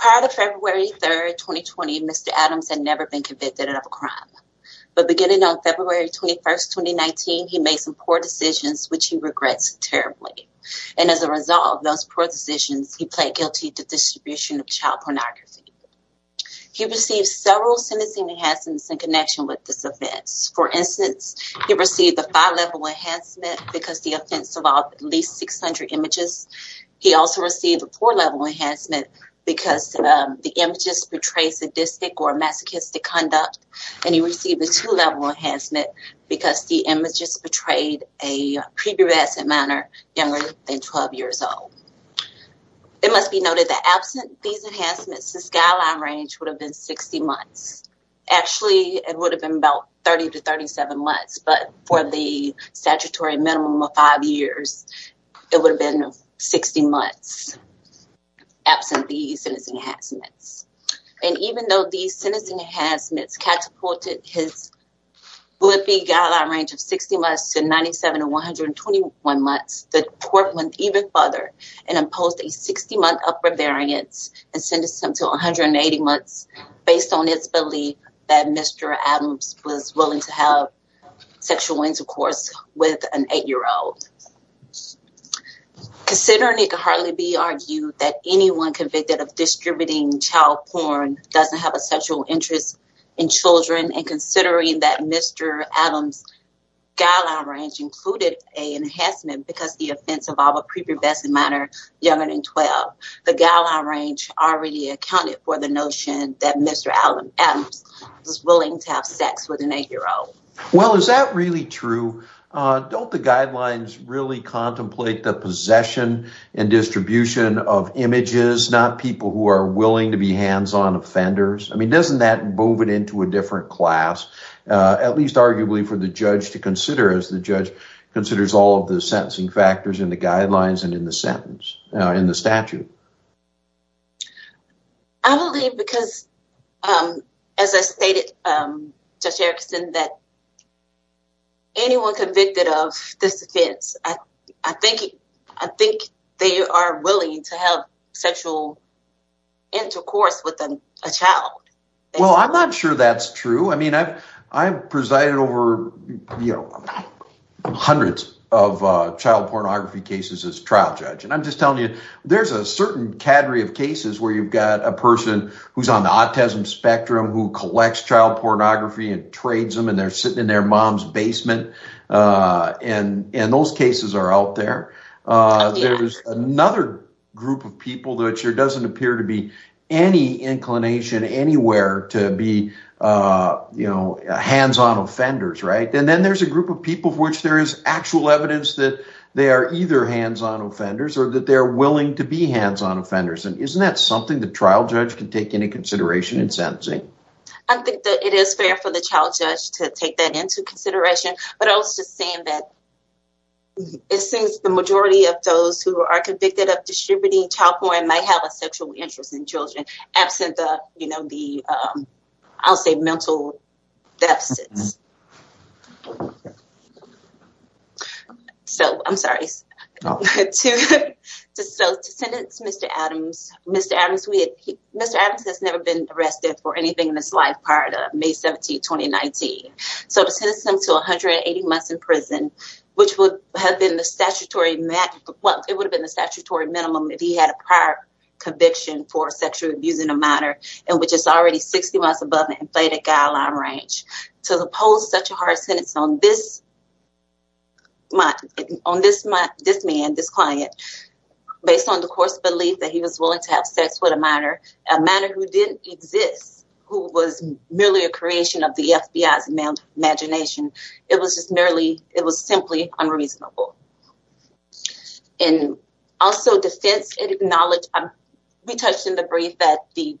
Prior to February 3rd, 2020, Mr. Adams had never been convicted of a crime, but beginning on February 21st, 2019, he made some poor decisions, which he regrets terribly. And as a result of those poor decisions, he pled guilty to distribution of child pornography. He received several sentencing enhancements in connection with this offense. For instance, he received a five-level enhancement because the offense involved at least 600 images. He also received a four-level enhancement because the images portrayed sadistic or masochistic conduct. And he received a two-level enhancement because the images portrayed a previous amount of It must be noted that absent these enhancements, his guideline range would have been 60 months. Actually, it would have been about 30 to 37 months, but for the statutory minimum of five years, it would have been 60 months absent these sentencing enhancements. And even though these sentencing enhancements catapulted his Blippi guideline range of 60 to 31 months, the court went even further and imposed a 60-month upper variance and sentenced him to 180 months based on his belief that Mr. Adams was willing to have sexual intercourse with an eight-year-old. Considering it could hardly be argued that anyone convicted of distributing child porn doesn't have a sexual interest in children and considering that Mr. Adams' guideline range included an enhancement because the offense involved a prepubescent minor younger than 12, the guideline range already accounted for the notion that Mr. Adams was willing to have sex with an eight-year-old. Well, is that really true? Don't the guidelines really contemplate the possession and distribution of images, not people who are willing to be hands-on offenders? I mean, doesn't that move it into a different class, at least arguably for the judge to consider all of the sentencing factors in the guidelines and in the statute? I believe because, as I stated, Judge Erickson, that anyone convicted of this offense, I think they are willing to have sexual intercourse with a child. Well, I'm not sure that's true. I've presided over hundreds of child pornography cases as trial judge. I'm just telling you, there's a certain cadre of cases where you've got a person who's on the autism spectrum who collects child pornography and trades them and they're sitting in their mom's basement and those cases are out there. There's another group of people that there doesn't appear to be any inclination anywhere to be hands-on offenders, right? And then there's a group of people for which there is actual evidence that they are either hands-on offenders or that they're willing to be hands-on offenders. And isn't that something the trial judge can take into consideration in sentencing? I think that it is fair for the child judge to take that into consideration. But I was just saying that it seems the majority of those who are convicted of distributing child porn might have a sexual interest in children, absent the, I'll say, mental deficits. So, I'm sorry, to sentence Mr. Adams, Mr. Adams has never been arrested for anything in his life prior to May 17, 2019. So to sentence him to 180 months in prison, which would have been the statutory minimum if he had a prior conviction for sexual abuse in a minor, and which is already 60 months above the inflated guideline range. To oppose such a hard sentence on this man, this client, based on the coarse belief that he was willing to have sex with a minor, a minor who didn't exist, who was merely a creation of the FBI's imagination, it was just merely, it was simply unreasonable. And also defense, it acknowledged, we touched in the brief that the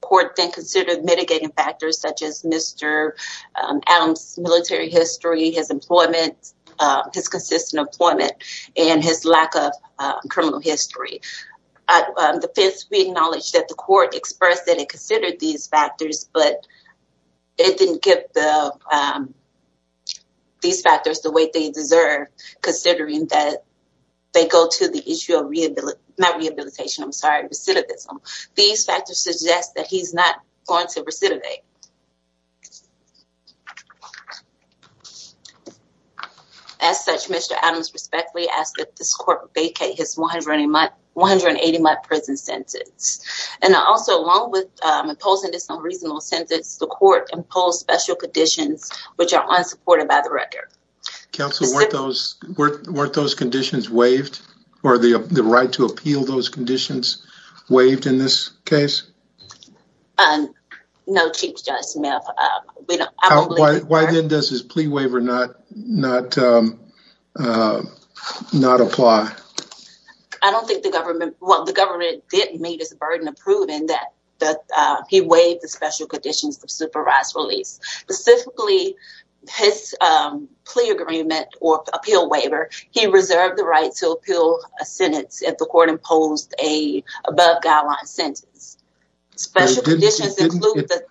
court then considered mitigating factors such as Mr. Adams' military history, his employment, his consistent employment, and his lack of criminal history. The defense, we acknowledged that the court expressed that it considered these factors, but it didn't give these factors the weight they deserve, considering that they go to the issue of rehabilitation, not rehabilitation, I'm sorry, recidivism. These factors suggest that he's not going to recidivate. As such, Mr. Adams respectfully asked that this court vacate his 180-month prison sentence. And also, along with imposing this unreasonable sentence, the court imposed special conditions which are unsupported by the record. Counsel, weren't those conditions waived, or the right to appeal those conditions waived in this case? No, Chief Justice Smith, we don't- Why then does his plea waiver not apply? I don't think the government, well, the government did meet its burden of proving that he waived the special conditions of supervised release. Specifically, his plea agreement or appeal waiver, he reserved the right to appeal a sentence if the court imposed a above-guideline sentence. Special conditions include the-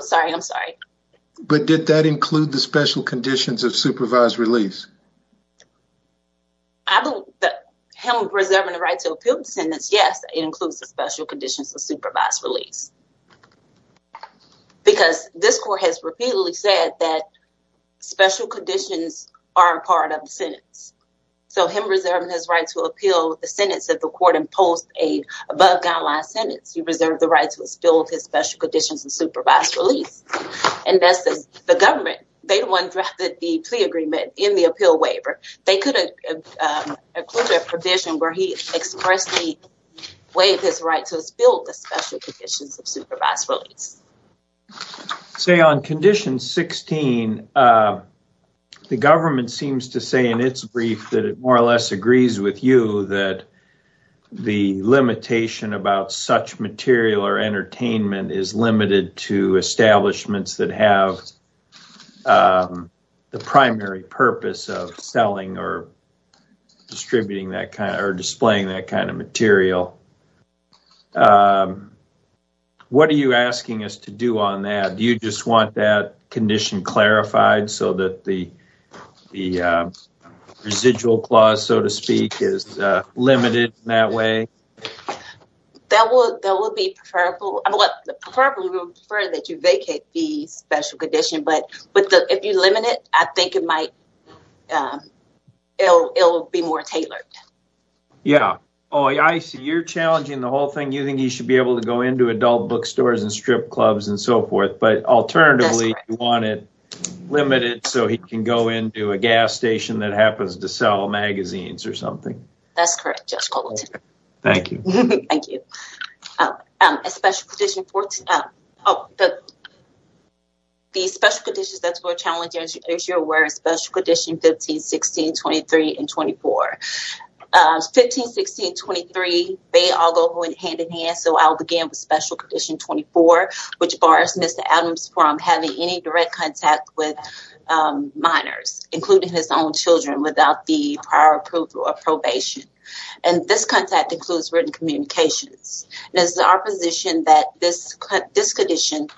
Sorry, I'm sorry. But did that include the special conditions of supervised release? I believe that him reserving the right to appeal the sentence, yes, it includes the special conditions of supervised release. Because this court has repeatedly said that special conditions aren't part of the sentence. So him reserving his right to appeal the sentence if the court imposed a above-guideline sentence, he reserved the right to appeal his special conditions of supervised release. And that's the government. They're the ones who drafted the plea agreement in the appeal waiver. They could have included a provision where he expressly waived his right to appeal the special conditions of supervised release. Say on condition 16, the government seems to say in its brief that it more or less agrees with you that the limitation about such material or entertainment is limited to establishments that have the primary purpose of selling or displaying that kind of material. What are you asking us to do on that? Do you just want that condition clarified so that the residual clause, so to speak, is limited in that way? That would be preferable. Preferably, we would prefer that you vacate the special condition, but if you limit it, I think it might be more tailored. Yeah. Oh, I see. You're challenging the whole thing. You think he should be able to go into adult bookstores and strip clubs and so forth, but alternatively you want it limited so he can go into a gas station that happens to sell magazines or something. That's correct, Judge Cogleton. Thank you. Thank you. The special conditions that's more challenging, as you're aware, are special conditions 15, 16, 23, and 24. 15, 16, 23, they all go hand-in-hand, so I'll begin with special condition 24, which bars Mr. Adams from having any direct contact with minors, including his own children, without the prior approval or probation. This contact includes written communications. It is our position that this condition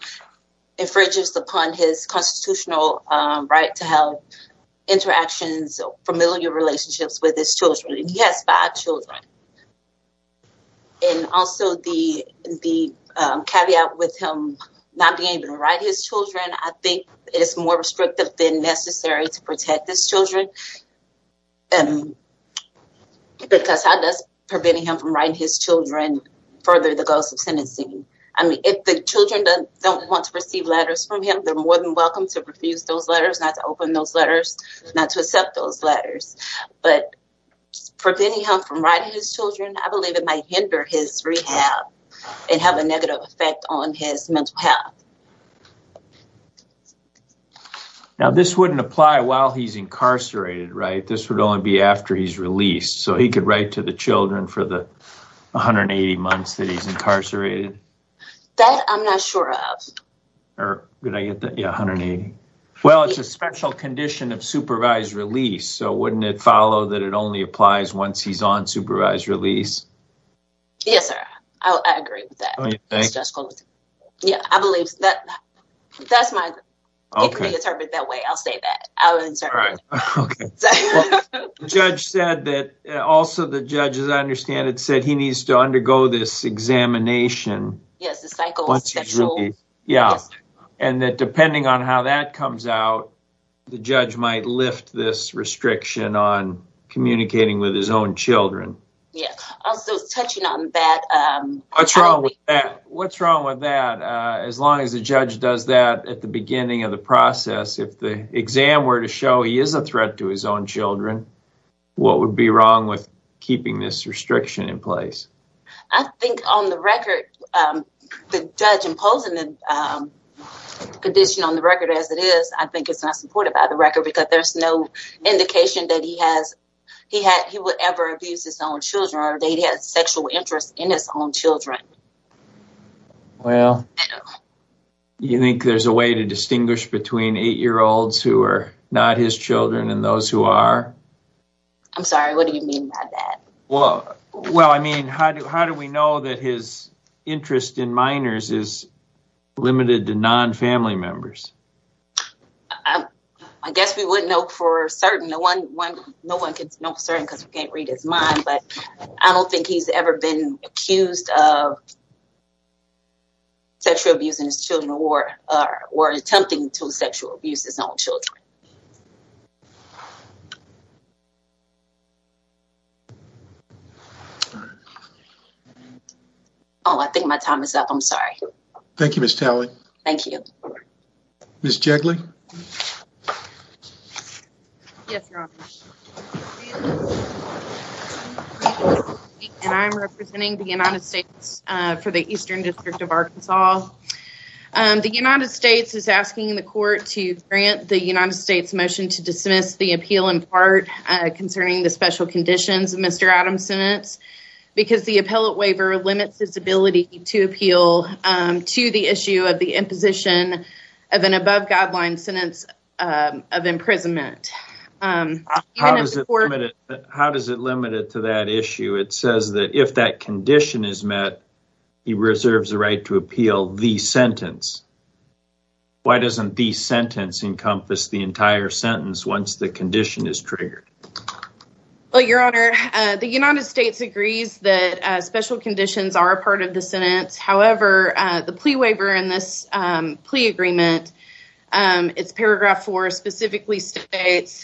infringes upon his constitutional right to have interactions or familiar relationships with his children, and he has five children. And also the caveat with him not being able to write his children, I think it is more restrictive than necessary to protect his children, because how does preventing him from writing his children further the goals of sentencing? I mean, if the children don't want to receive letters from him, they're more than welcome to refuse those letters, not to open those letters, not to accept those letters. But preventing him from writing his children, I believe it might hinder his rehab and have a negative effect on his mental health. Now this wouldn't apply while he's incarcerated, right? This would only be after he's released. So he could write to the children for the 180 months that he's incarcerated? That I'm not sure of. Did I get that? Yeah, 180. Well, it's a special condition of supervised release, so wouldn't it follow that it only applies once he's on supervised release? I agree with that. Oh, you think? Yeah, I believe that. That's my opinion. Okay. It could be interpreted that way. I'll say that. All right. Okay. The judge said that, also the judge, as I understand it, said he needs to undergo this examination. Yes, the cycle. Once he's released. Yeah. Yes. And that depending on how that comes out, the judge might lift this restriction on communicating with his own children. Yeah. Also, touching on that- What's wrong with that? What's wrong with that? As long as the judge does that at the beginning of the process, if the exam were to show he is a threat to his own children, what would be wrong with keeping this restriction in place? I think on the record, the judge imposing the condition on the record as it is, I think it's not supported by the record because there's no indication that he would ever abuse his own children or that he has sexual interest in his own children. Well, you think there's a way to distinguish between eight-year-olds who are not his children and those who are? I'm sorry. What do you mean by that? Well, I mean, how do we know that his interest in minors is limited to non-family members? I guess we wouldn't know for certain. No one can know for certain because we can't read his mind, but I don't think he's ever been accused of sexual abuse in his children or attempting to sexual abuse his own children. Oh, I think my time is up. I'm sorry. Thank you, Ms. Talley. Thank you. Ms. Jegley? Yes, Your Honor. I'm representing the United States for the Eastern District of Arkansas. The United States is asking the court to grant the United States motion to dismiss the appeal in part concerning the special conditions. Mr. Adamson, it's because the appellate waiver limits his ability to appeal to the issue of the imposition of an above-guideline sentence of imprisonment. How does it limit it to that issue? It says that if that condition is met, he reserves the right to appeal the sentence. Why doesn't the sentence encompass the entire sentence once the condition is triggered? Well, Your Honor, the United States agrees that special conditions are a part of the sentence. However, the plea waiver in this plea agreement, it's paragraph four specifically states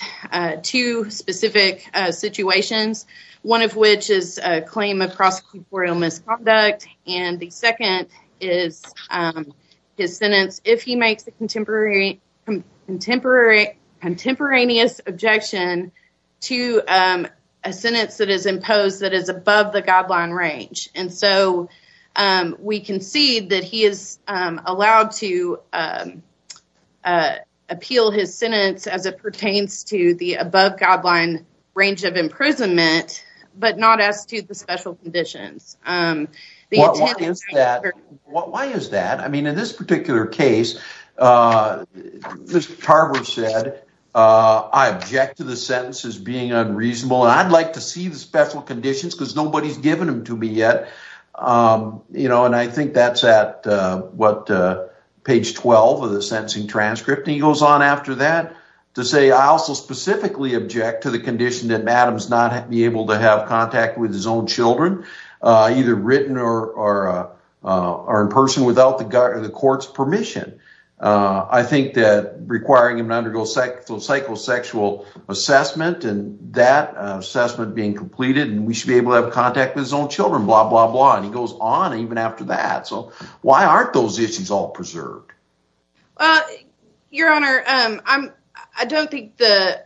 two specific situations, one of which is a claim of prosecutorial misconduct, and the second is his sentence if he makes a contemporaneous objection to a sentence that is imposed that is above the guideline range. And so, we concede that he is allowed to appeal his sentence as it pertains to the above-guideline range of imprisonment, but not as to the special conditions. Why is that? I mean, in this particular case, Mr. Tarver said, I object to the sentence as being unreasonable, and I'd like to see the special conditions because nobody's given them to me yet. And I think that's at what, page 12 of the sentencing transcript, and he goes on after that to say, I also specifically object to the condition that Adams not be able to have contact with his own children, either written or in person without the court's permission. I think that requiring him to undergo psychosexual assessment and that assessment being completed, and we should be able to have contact with his own children, blah, blah, blah, and he goes on even after that. So, why aren't those issues all preserved? Well, Your Honor, I don't think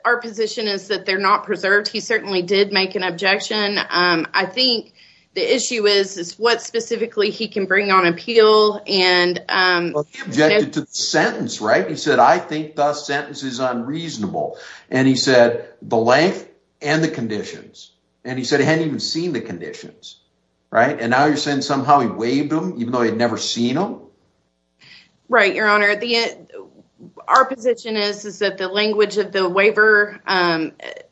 our position is that they're not preserved. He certainly did make an objection. I think the issue is, is what specifically he can bring on appeal and- Well, he objected to the sentence, right? He said, I think the sentence is unreasonable. And he said, the length and the conditions. And he said he hadn't even seen the conditions, right? And now you're saying somehow he waived them, even though he'd never seen them? Right, Your Honor. Our position is that the language of the waiver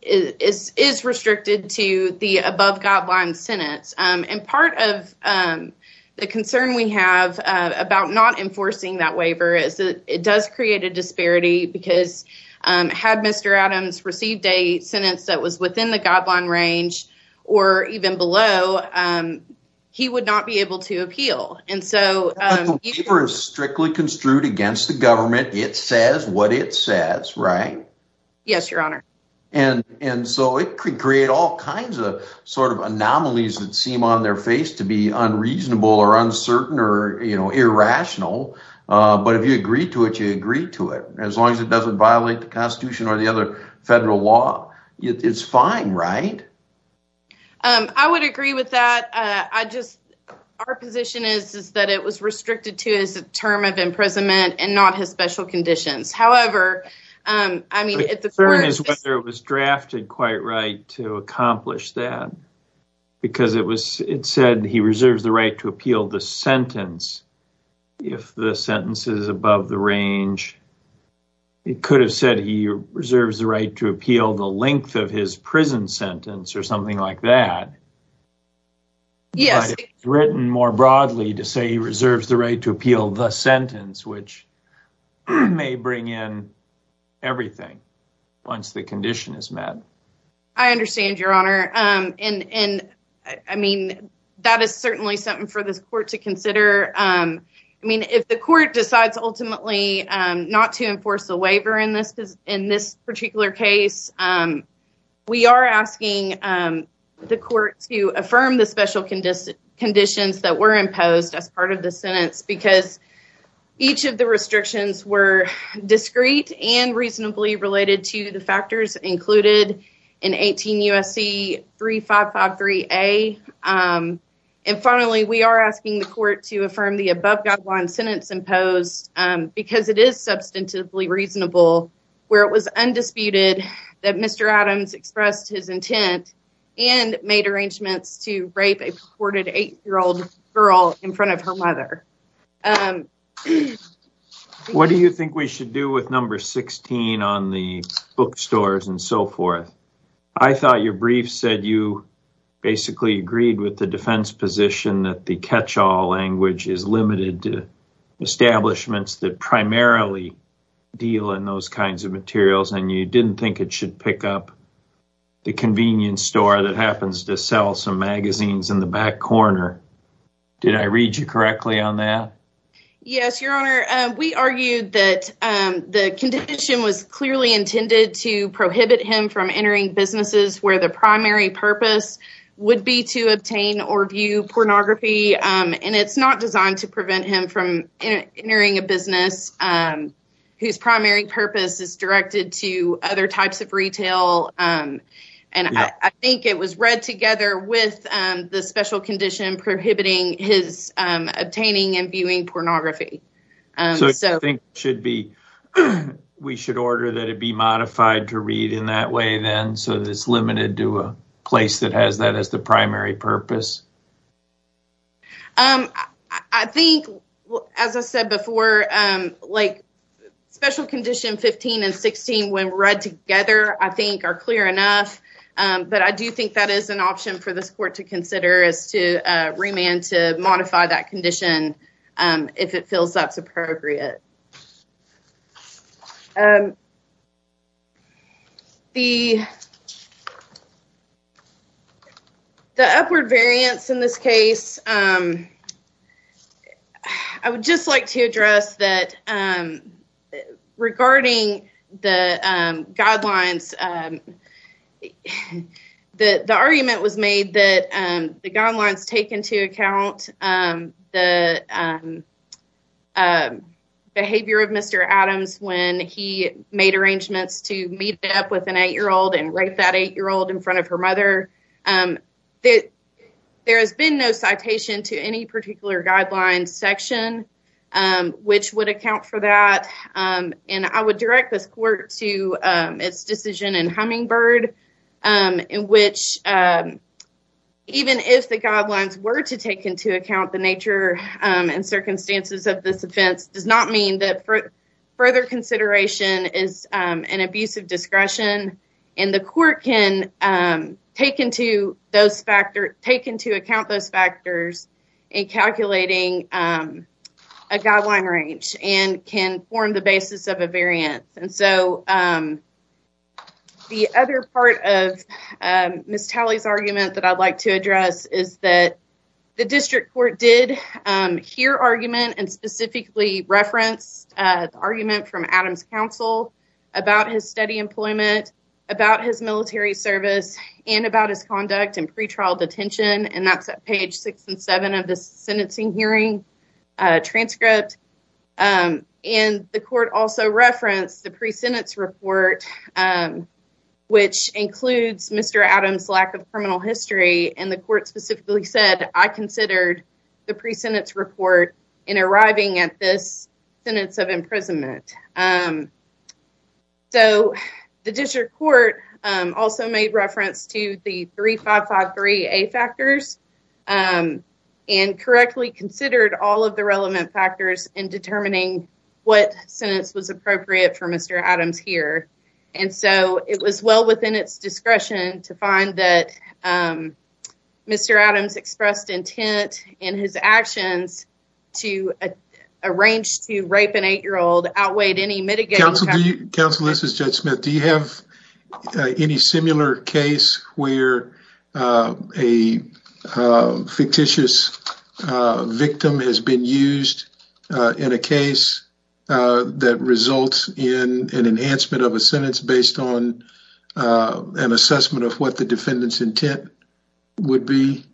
is restricted to the above-guideline sentence. And part of the concern we have about not enforcing that waiver is that it does create a disparity because had Mr. Adams received a sentence that was within the guideline range or even below, he would not be able to appeal. But the waiver is strictly construed against the government. It says what it says, right? Yes, Your Honor. And so it could create all kinds of sort of anomalies that seem on their face to be unreasonable or uncertain or irrational. But if you agree to it, you agree to it. As long as it doesn't violate the Constitution or the other federal law, it's fine, right? I would agree with that. But I just, our position is that it was restricted to his term of imprisonment and not his special conditions. However, I mean, at the court- The concern is whether it was drafted quite right to accomplish that because it said he reserves the right to appeal the sentence if the sentence is above the range. It could have said he reserves the right to appeal the length of his prison sentence or Yes. Written more broadly to say he reserves the right to appeal the sentence, which may bring in everything once the condition is met. I understand, Your Honor. And I mean, that is certainly something for this court to consider. I mean, if the court decides ultimately not to enforce the waiver in this particular case, we are asking the court to affirm the special conditions that were imposed as part of the sentence because each of the restrictions were discreet and reasonably related to the factors included in 18 U.S.C. 3553A. And finally, we are asking the court to affirm the above guideline sentence imposed because it is substantively reasonable where it was undisputed that Mr. Adams expressed his intent and made arrangements to rape a purported eight-year-old girl in front of her mother. What do you think we should do with number 16 on the bookstores and so forth? I thought your brief said you basically agreed with the defense position that the catch-all language is limited to establishments that primarily deal in those kinds of materials, and you didn't think it should pick up the convenience store that happens to sell some magazines in the back corner. Did I read you correctly on that? Yes, Your Honor. We argued that the condition was clearly intended to prohibit him from entering businesses where the primary purpose would be to obtain or view pornography, and it's not designed to prevent him from entering a business whose primary purpose is directed to other types of retail. And I think it was read together with the special condition prohibiting his obtaining and viewing pornography. So I think we should order that it be modified to read in that way then, so that it's limited to a place that has that as the primary purpose. I think, as I said before, special condition 15 and 16, when read together, I think are clear enough, but I do think that is an option for this court to consider as to remand to modify that condition if it feels that's appropriate. The upward variance in this case, I would just like to address that regarding the guidelines, the argument was made that the guidelines take into account the behavior of Mr. Adams when he made arrangements to meet up with an eight-year-old and rape that eight-year-old in front of her mother. There has been no citation to any particular guidelines section which would account for that, and I would direct this court to its decision in Hummingbird, in which even if the guidelines were to take into account the nature and circumstances of this offense does not mean that further consideration is an abuse of discretion, and the court can take into account those factors in calculating a guideline range and can form the basis of a variance. And so, the other part of Ms. Talley's argument that I'd like to address is that the district court did hear argument and specifically referenced the argument from Adams' counsel about his steady employment, about his military service, and about his conduct in pretrial detention, and that's at page six and seven of the sentencing hearing transcript, and the court also referenced the pre-sentence report, which includes Mr. Adams' lack of criminal history, and the court specifically said, I considered the pre-sentence report in arriving at this sentence of imprisonment. So, the district court also made reference to the 3553A factors and correctly considered all of the relevant factors in determining what sentence was appropriate for Mr. Adams here, and so it was well within its discretion to find that Mr. Adams expressed intent in his actions to arrange to rape an eight-year-old outweighed any mitigating factors. Counsel, this is Judge Smith. Do you have any similar case where a fictitious victim has been used in a case that results in an enhancement of a sentence based on an assessment of what the defendant's intent would be?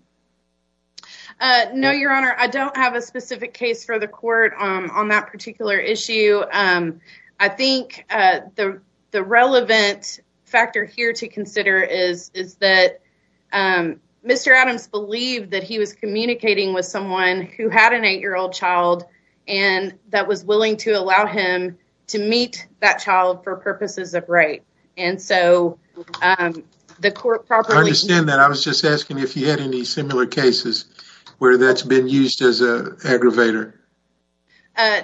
No, Your Honor. I don't have a specific case for the court on that particular issue. I think the relevant factor here to consider is that Mr. Adams believed that he was communicating with someone who had an eight-year-old child and that was willing to allow him to meet that child for purposes of rape, and so the court properly… I understand that. I was just asking if you had any similar cases where that's been used as an aggravator.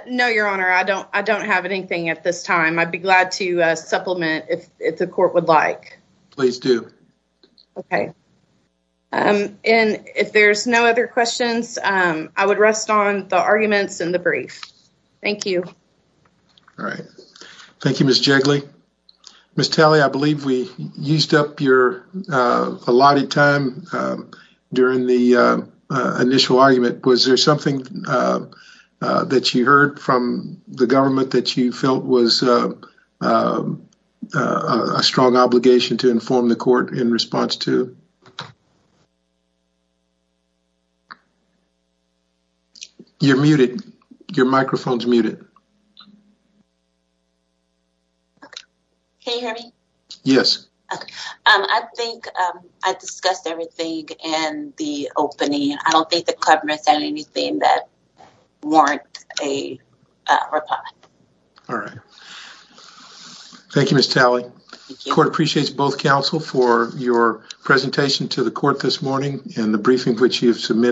No, Your Honor. I don't have anything at this time. I'd be glad to supplement if the court would like. Please do. Okay. And if there's no other questions, I would rest on the arguments in the brief. Thank you. All right. Thank you, Ms. Jigley. Ms. Talley, I believe we used up your allotted time during the initial argument. Was there something that you heard from the government that you felt was a strong obligation to inform the court in response to? You're muted. Your microphone's muted. Okay. Can you hear me? Yes. Okay. I think I discussed everything in the opening. I don't think the government said anything that warrants a reply. All right. Thank you, Ms. Talley. Thank you. The court appreciates both counsel for your presentation to the court this morning, and Thank you. Thank you. Thank you. Thank you. Thank you. Thank you. Thank you. Thank you. Thank you. Thank you, Ms. Talley.